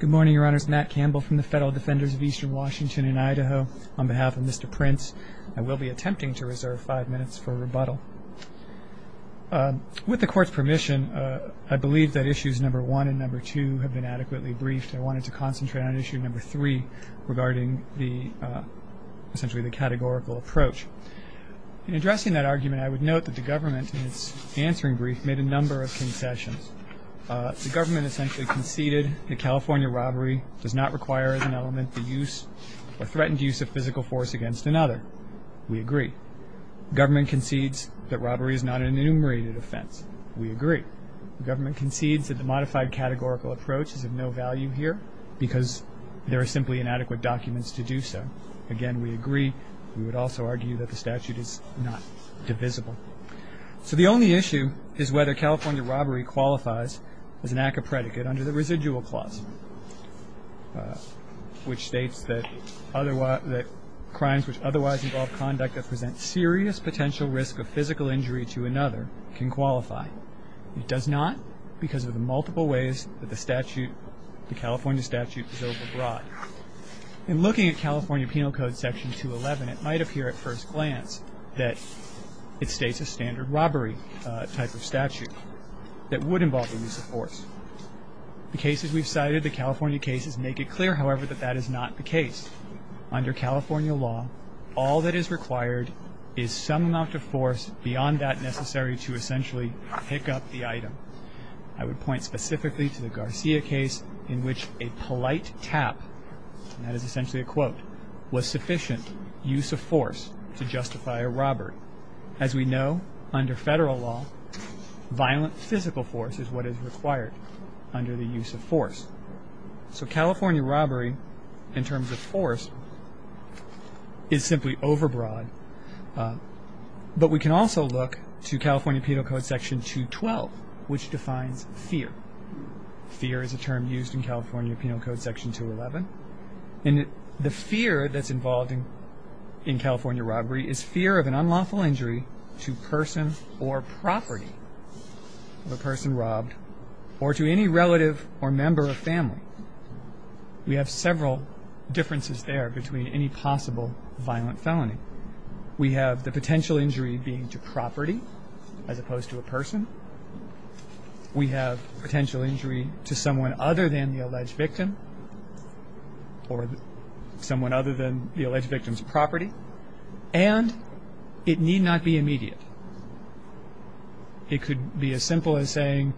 Good morning, Your Honors. Matt Campbell from the Federal Defenders of Eastern Washington in Idaho. On behalf of Mr. Prince, I will be attempting to reserve five minutes for rebuttal. With the Court's permission, I believe that Issues No. 1 and No. 2 have been adequately briefed. I wanted to concentrate on Issue No. 3 regarding essentially the categorical approach. In addressing that argument, I would note that the government, in its answering brief, made a number of concessions. The government essentially conceded that California robbery does not require as an element the use or threatened use of physical force against another. We agree. The government concedes that robbery is not an enumerated offense. We agree. The government concedes that the modified categorical approach is of no value here because there are simply inadequate documents to do so. Again, we agree. We would also argue that the statute is not divisible. So the only issue is whether California robbery qualifies as an act of predicate under the residual clause, which states that crimes which otherwise involve conduct that present serious potential risk of physical injury to another can qualify. It does not because of the multiple ways that the California statute is overbrought. In looking at California Penal Code Section 211, it might appear at first glance that it states a standard robbery type of statute that would involve the use of force. The cases we've cited, the California cases, make it clear, however, that that is not the case. Under California law, all that is required is some amount of force beyond that necessary to essentially pick up the item. I would point specifically to the Garcia case in which a polite tap, and that is essentially a quote, was sufficient use of force to justify a robbery. As we know, under federal law, violent physical force is what is required under the use of force. So California robbery, in terms of force, is simply overbroad. But we can also look to California Penal Code Section 212, which defines fear. Fear is a term used in California Penal Code Section 211. The fear that's involved in California robbery is fear of an unlawful injury to person or property of a person robbed, or to any relative or member of family. We have several differences there between any possible violent felony. We have the potential injury being to property as opposed to a person. We have potential injury to someone other than the alleged victim or someone other than the alleged victim's property. And it need not be immediate. It could be as simple as saying,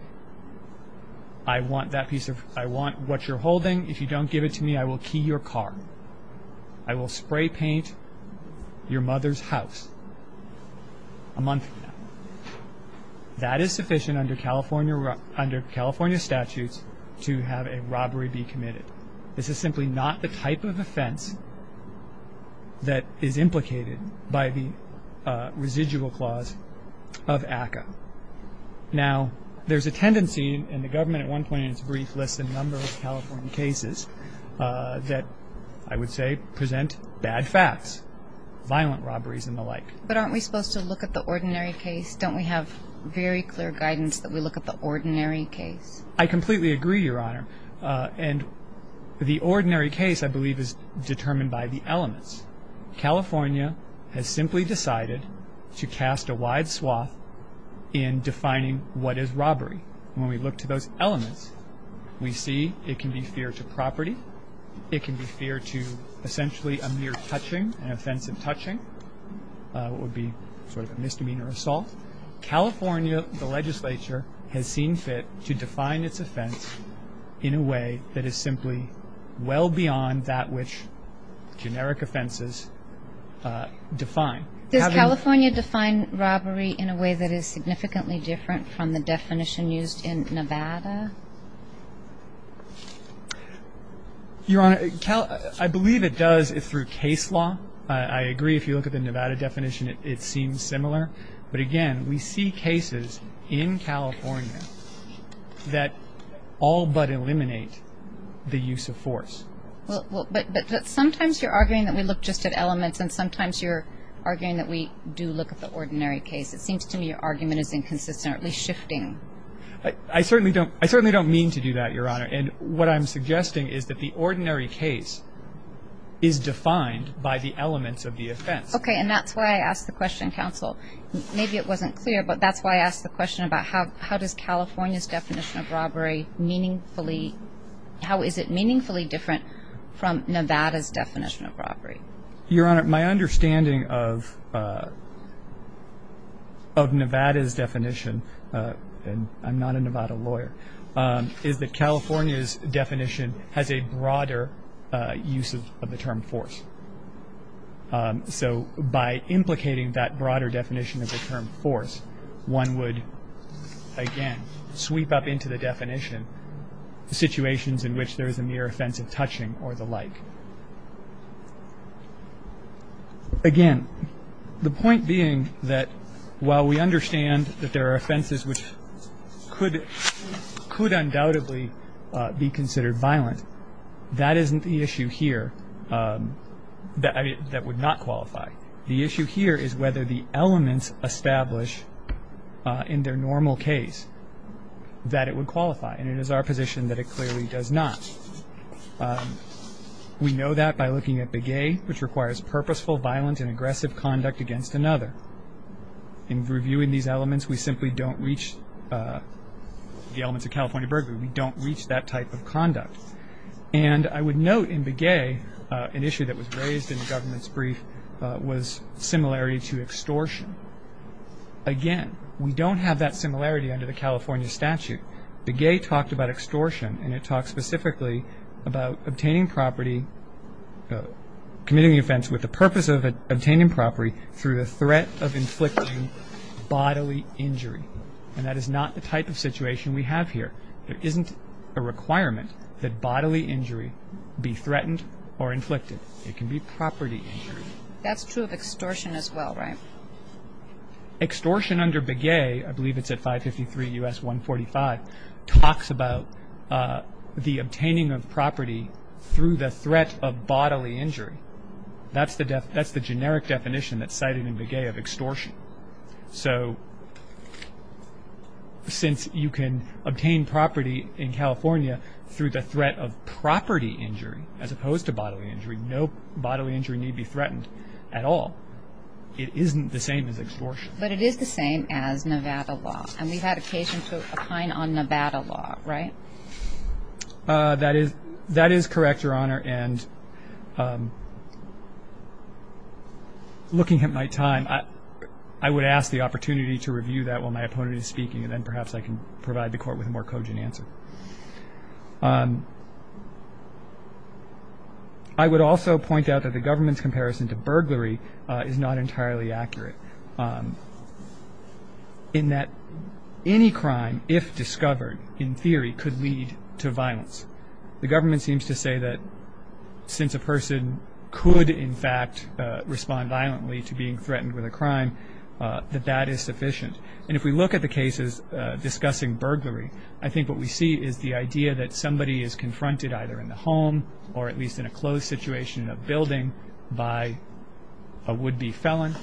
I want that piece of, I want what you're holding. If you don't give it to me, I will key your car. I will spray paint your mother's house a month from now. That is sufficient under California statutes to have a robbery be committed. This is simply not the type of offense that is implicated by the residual clause of ACCA. Now, there's a tendency, and the government at one point in its brief lists a number of California cases, that I would say present bad facts, violent robberies and the like. But aren't we supposed to look at the ordinary case? Don't we have very clear guidance that we look at the ordinary case? I completely agree, Your Honor. And the ordinary case, I believe, is determined by the elements. California has simply decided to cast a wide swath in defining what is robbery. When we look to those elements, we see it can be fear to property. It can be fear to essentially a mere touching, an offensive touching. It would be sort of a misdemeanor assault. California, the legislature, has seen fit to define its offense in a way that is simply well beyond that which generic offenses define. Does California define robbery in a way that is significantly different from the definition used in Nevada? Your Honor, I believe it does through case law. I agree. If you look at the Nevada definition, it seems similar. But, again, we see cases in California that all but eliminate the use of force. But sometimes you're arguing that we look just at elements and sometimes you're arguing that we do look at the ordinary case. It seems to me your argument is inconsistently shifting. I certainly don't mean to do that, Your Honor. And what I'm suggesting is that the ordinary case is defined by the elements of the offense. Okay, and that's why I asked the question, Counsel. Maybe it wasn't clear, but that's why I asked the question about how does California's definition of robbery meaningfully, how is it meaningfully different from Nevada's definition of robbery? Your Honor, my understanding of Nevada's definition, and I'm not a Nevada lawyer, is that California's definition has a broader use of the term force. So by implicating that broader definition of the term force, one would, again, sweep up into the definition the situations in which there is a mere offense of touching or the like. Again, the point being that while we understand that there are offenses which could undoubtedly be considered violent, that isn't the issue here. That would not qualify. The issue here is whether the elements establish in their normal case that it would qualify, and it is our position that it clearly does not. We know that by looking at Begay, which requires purposeful, violent, and aggressive conduct against another. In reviewing these elements, we simply don't reach the elements of California burglary. We don't reach that type of conduct. And I would note in Begay, an issue that was raised in the government's brief, was similarity to extortion. Again, we don't have that similarity under the California statute. Begay talked about extortion, and it talked specifically about obtaining property, committing the offense with the purpose of obtaining property through the threat of inflicting bodily injury. And that is not the type of situation we have here. There isn't a requirement that bodily injury be threatened or inflicted. It can be property injury. That's true of extortion as well, right? Extortion under Begay, I believe it's at 553 U.S. 145, talks about the obtaining of property through the threat of bodily injury. That's the generic definition that's cited in Begay of extortion. So since you can obtain property in California through the threat of property injury as opposed to bodily injury, no bodily injury need be threatened at all. It isn't the same as extortion. But it is the same as Nevada law, and we've had occasion to opine on Nevada law, right? That is correct, Your Honor. And looking at my time, I would ask the opportunity to review that while my opponent is speaking, and then perhaps I can provide the Court with a more cogent answer. I would also point out that the government's comparison to burglary is not entirely accurate, in that any crime, if discovered, in theory, could lead to violence. The government seems to say that since a person could, in fact, respond violently to being threatened with a crime, that that is sufficient. And if we look at the cases discussing burglary, I think what we see is the idea that somebody is confronted either in the home or at least in a closed situation in a building by a would-be felon,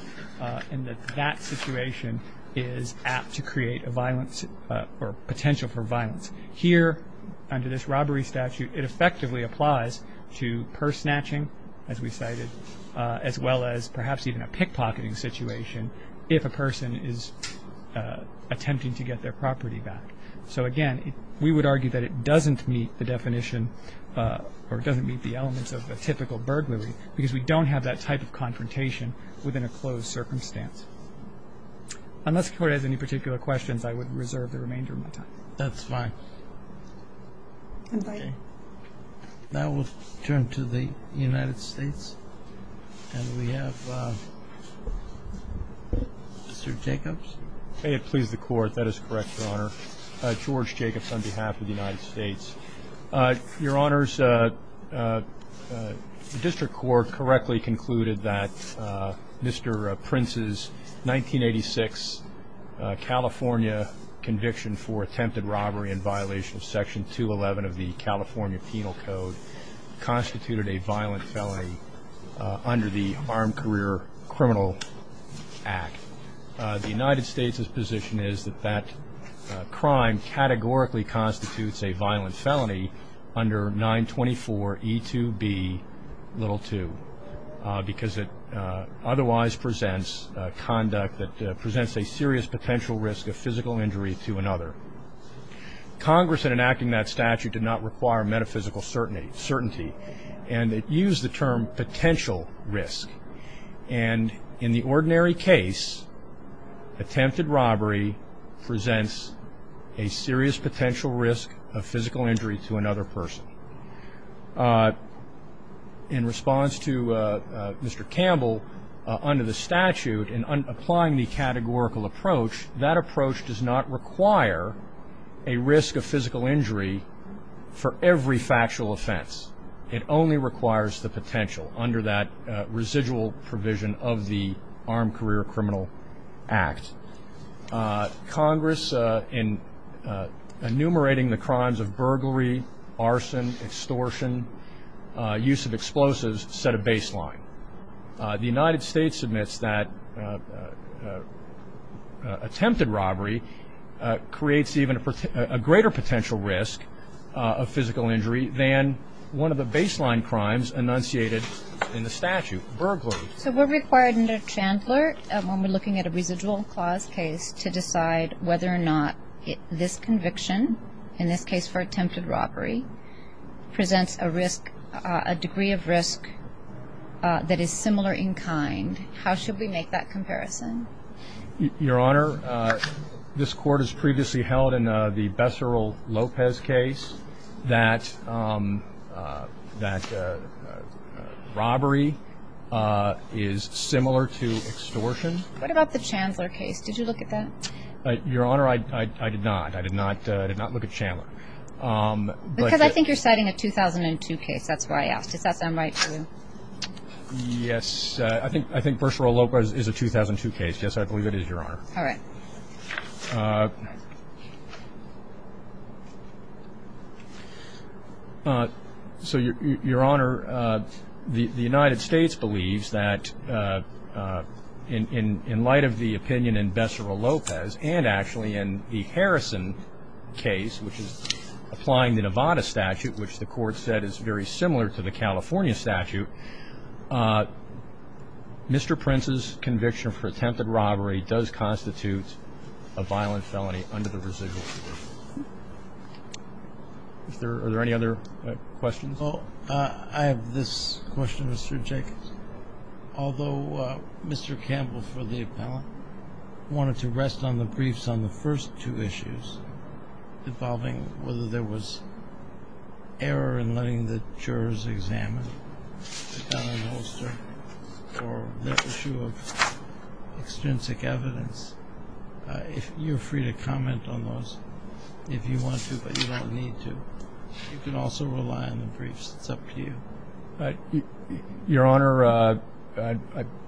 and that that situation is apt to create a violence or potential for violence. Here, under this robbery statute, it effectively applies to purse snatching, as we cited, as well as perhaps even a pickpocketing situation if a person is attempting to get their property back. So, again, we would argue that it doesn't meet the definition or doesn't meet the elements of a typical burglary because we don't have that type of confrontation within a closed circumstance. Unless the Court has any particular questions, I would reserve the remainder of my time. That's fine. Now we'll turn to the United States, and we have Mr. Jacobs. May it please the Court. That is correct, Your Honor. George Jacobs on behalf of the United States. Your Honors, the District Court correctly concluded that Mr. Prince's 1986 California conviction for attempted robbery in violation of Section 211 of the California Penal Code constituted a violent felony under the Armed Career Criminal Act. The United States' position is that that crime categorically constitutes a violent felony under 924E2B2 because it otherwise presents conduct that presents a serious potential risk of physical injury to another. Congress, in enacting that statute, did not require metaphysical certainty, and it used the term potential risk. And in the ordinary case, attempted robbery presents a serious potential risk of physical injury to another person. In response to Mr. Campbell, under the statute, in applying the categorical approach, that approach does not require a risk of physical injury for every factual offense. It only requires the potential under that residual provision of the Armed Career Criminal Act. Congress, in enumerating the crimes of burglary, arson, extortion, use of explosives, set a baseline. The United States admits that attempted robbery creates even a greater potential risk of physical injury than one of the baseline crimes enunciated in the statute, burglary. So we're required under Chandler, when we're looking at a residual clause case, to decide whether or not this conviction, in this case for attempted robbery, presents a degree of risk that is similar in kind. How should we make that comparison? Your Honor, this Court has previously held in the Becerril-Lopez case that robbery is similar to extortion. What about the Chandler case? Did you look at that? Your Honor, I did not. I did not look at Chandler. Because I think you're citing a 2002 case. That's why I asked. Does that sound right to you? Yes. I think Becerril-Lopez is a 2002 case. Yes, I believe it is, Your Honor. All right. So, Your Honor, the United States believes that, in light of the opinion in Becerril-Lopez and actually in the Harrison case, which is applying the Nevada statute, which the Court said is very similar to the California statute, Mr. Prince's conviction for attempted robbery does constitute a violent felony under the residual provision. Are there any other questions? Well, I have this question, Mr. Jacobs. Although Mr. Campbell, for the appellant, wanted to rest on the briefs on the first two issues, involving whether there was error in letting the jurors examine the felony holster for the issue of extrinsic evidence, you're free to comment on those if you want to, but you don't need to. You can also rely on the briefs. It's up to you. Your Honor, I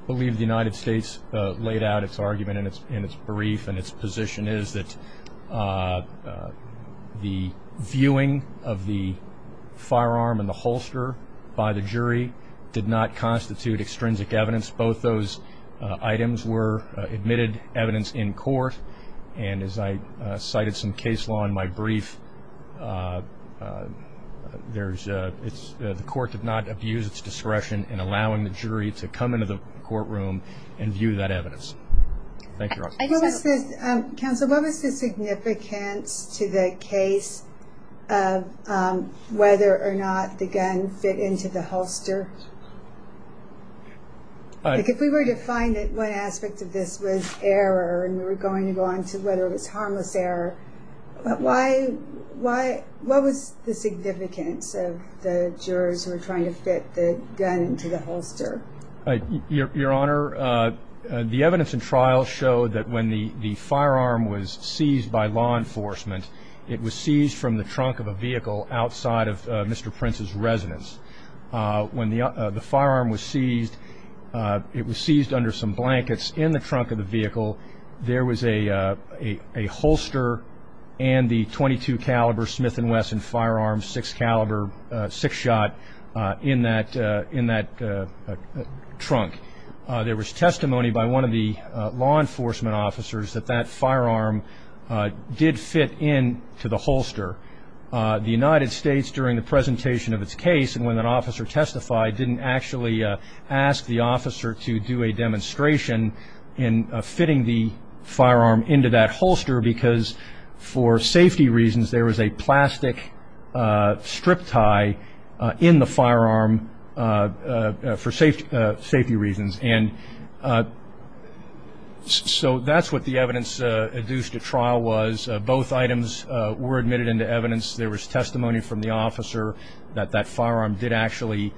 believe the United States laid out its argument in its brief and its position is that the viewing of the firearm and the holster by the jury did not constitute extrinsic evidence. Both those items were admitted evidence in court, and as I cited some case law in my brief, the Court did not abuse its discretion in allowing the jury to come into the courtroom and view that evidence. Thank you, Your Honor. Counsel, what was the significance to the case of whether or not the gun fit into the holster? If we were to find that one aspect of this was error and we were going to go on to whether it was harmless error, what was the significance of the jurors who were trying to fit the gun into the holster? Your Honor, the evidence in trial showed that when the firearm was seized by law enforcement, it was seized from the trunk of a vehicle outside of Mr. Prince's residence. When the firearm was seized, it was seized under some blankets in the trunk of the vehicle. There was a holster and the .22-caliber Smith & Wesson firearm six-shot in that trunk. There was testimony by one of the law enforcement officers that that firearm did fit into the holster. The United States, during the presentation of its case, didn't actually ask the officer to do a demonstration in fitting the firearm into that holster because, for safety reasons, there was a plastic strip tie in the firearm for safety reasons. So that's what the evidence adduced at trial was. Both items were admitted into evidence. There was testimony from the officer that that firearm did actually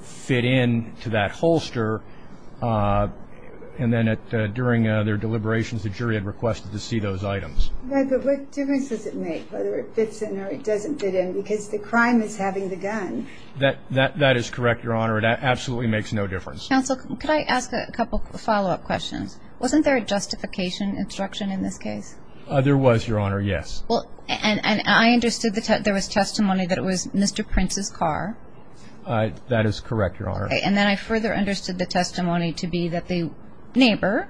fit into that holster. And then during their deliberations, the jury had requested to see those items. But what difference does it make whether it fits in or it doesn't fit in because the crime is having the gun? That is correct, Your Honor. It absolutely makes no difference. Counsel, could I ask a couple of follow-up questions? Wasn't there a justification instruction in this case? There was, Your Honor, yes. I understood there was testimony that it was Mr. Prince's car. That is correct, Your Honor. And then I further understood the testimony to be that the neighbor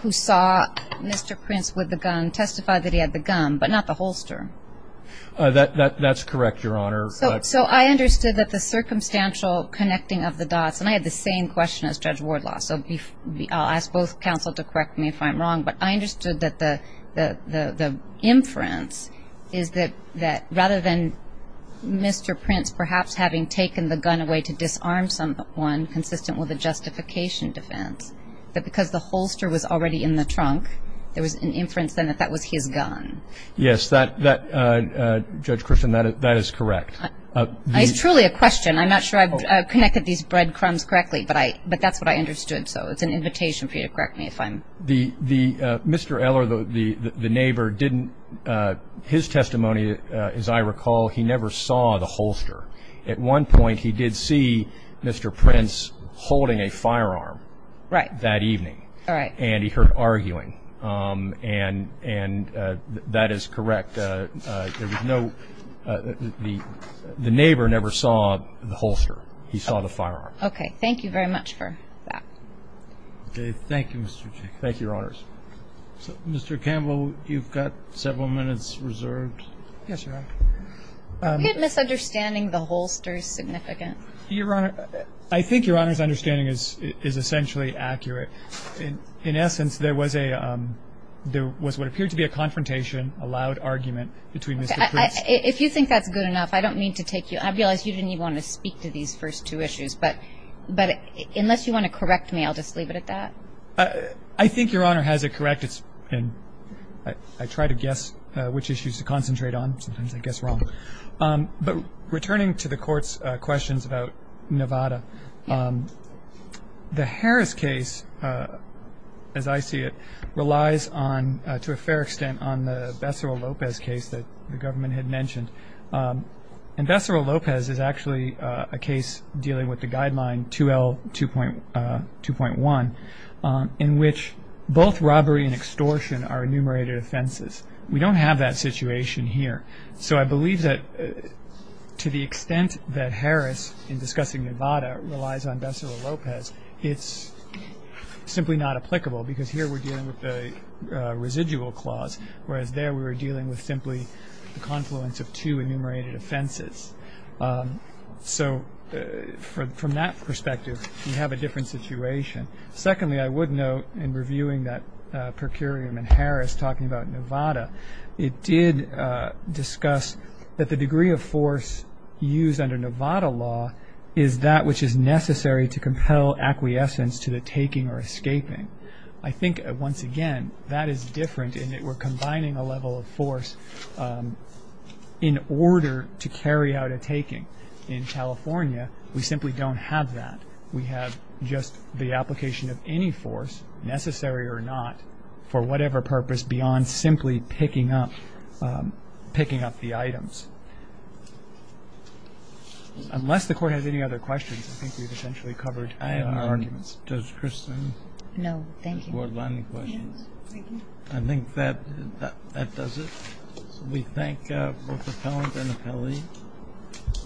who saw Mr. Prince with the gun testified that he had the gun, but not the holster. That's correct, Your Honor. So I understood that the circumstantial connecting of the dots, and I had the same question as Judge Wardlaw, so I'll ask both counsel to correct me if I'm wrong. But I understood that the inference is that rather than Mr. Prince perhaps having taken the gun away to disarm someone, consistent with a justification defense, that because the holster was already in the trunk, there was an inference then that that was his gun. Yes, Judge Christian, that is correct. It's truly a question. I'm not sure I've connected these breadcrumbs correctly, but that's what I understood. Mr. Eller, the neighbor, didn't his testimony, as I recall, he never saw the holster. At one point he did see Mr. Prince holding a firearm. Right. That evening. All right. And he heard arguing, and that is correct. There was no, the neighbor never saw the holster. He saw the firearm. Okay. Thank you very much for that. Okay. Thank you, Mr. Chief. Thank you, Your Honors. Mr. Campbell, you've got several minutes reserved. Yes, Your Honor. Are we misunderstanding the holster's significance? Your Honor, I think Your Honor's understanding is essentially accurate. In essence, there was a, there was what appeared to be a confrontation, a loud argument between Mr. Prince. If you think that's good enough, I don't mean to take you, I realize you didn't even want to speak to these first two issues, but unless you want to correct me, I'll just leave it at that. I think Your Honor has it correct. I try to guess which issues to concentrate on. Sometimes I guess wrong. But returning to the Court's questions about Nevada, the Harris case, as I see it, relies on, to a fair extent, on the Becerra-Lopez case that the government had mentioned. And Becerra-Lopez is actually a case dealing with the Guideline 2L2.1, in which both robbery and extortion are enumerated offenses. We don't have that situation here. So I believe that to the extent that Harris, in discussing Nevada, relies on Becerra-Lopez, it's simply not applicable because here we're dealing with a residual clause, whereas there we were dealing with simply the confluence of two enumerated offenses. So from that perspective, we have a different situation. Secondly, I would note, in reviewing that per curiam in Harris, talking about Nevada, it did discuss that the degree of force used under Nevada law is that which is necessary to compel acquiescence to the taking or escaping. I think, once again, that is different in that we're combining a level of force in order to carry out a taking. In California, we simply don't have that. We have just the application of any force, necessary or not, for whatever purpose beyond simply picking up the items. Unless the Court has any other questions, I think we've essentially covered our arguments. Does Kristin? No, thank you. Board line questions? Yes, thank you. I think that does it. We thank both appellant and appellee,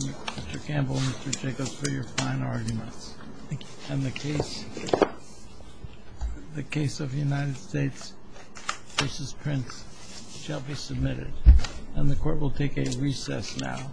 Mr. Campbell and Mr. Jacobs, for your fine arguments. Thank you. And the case of the United States v. Prince shall be submitted. And the Court will take a recess now.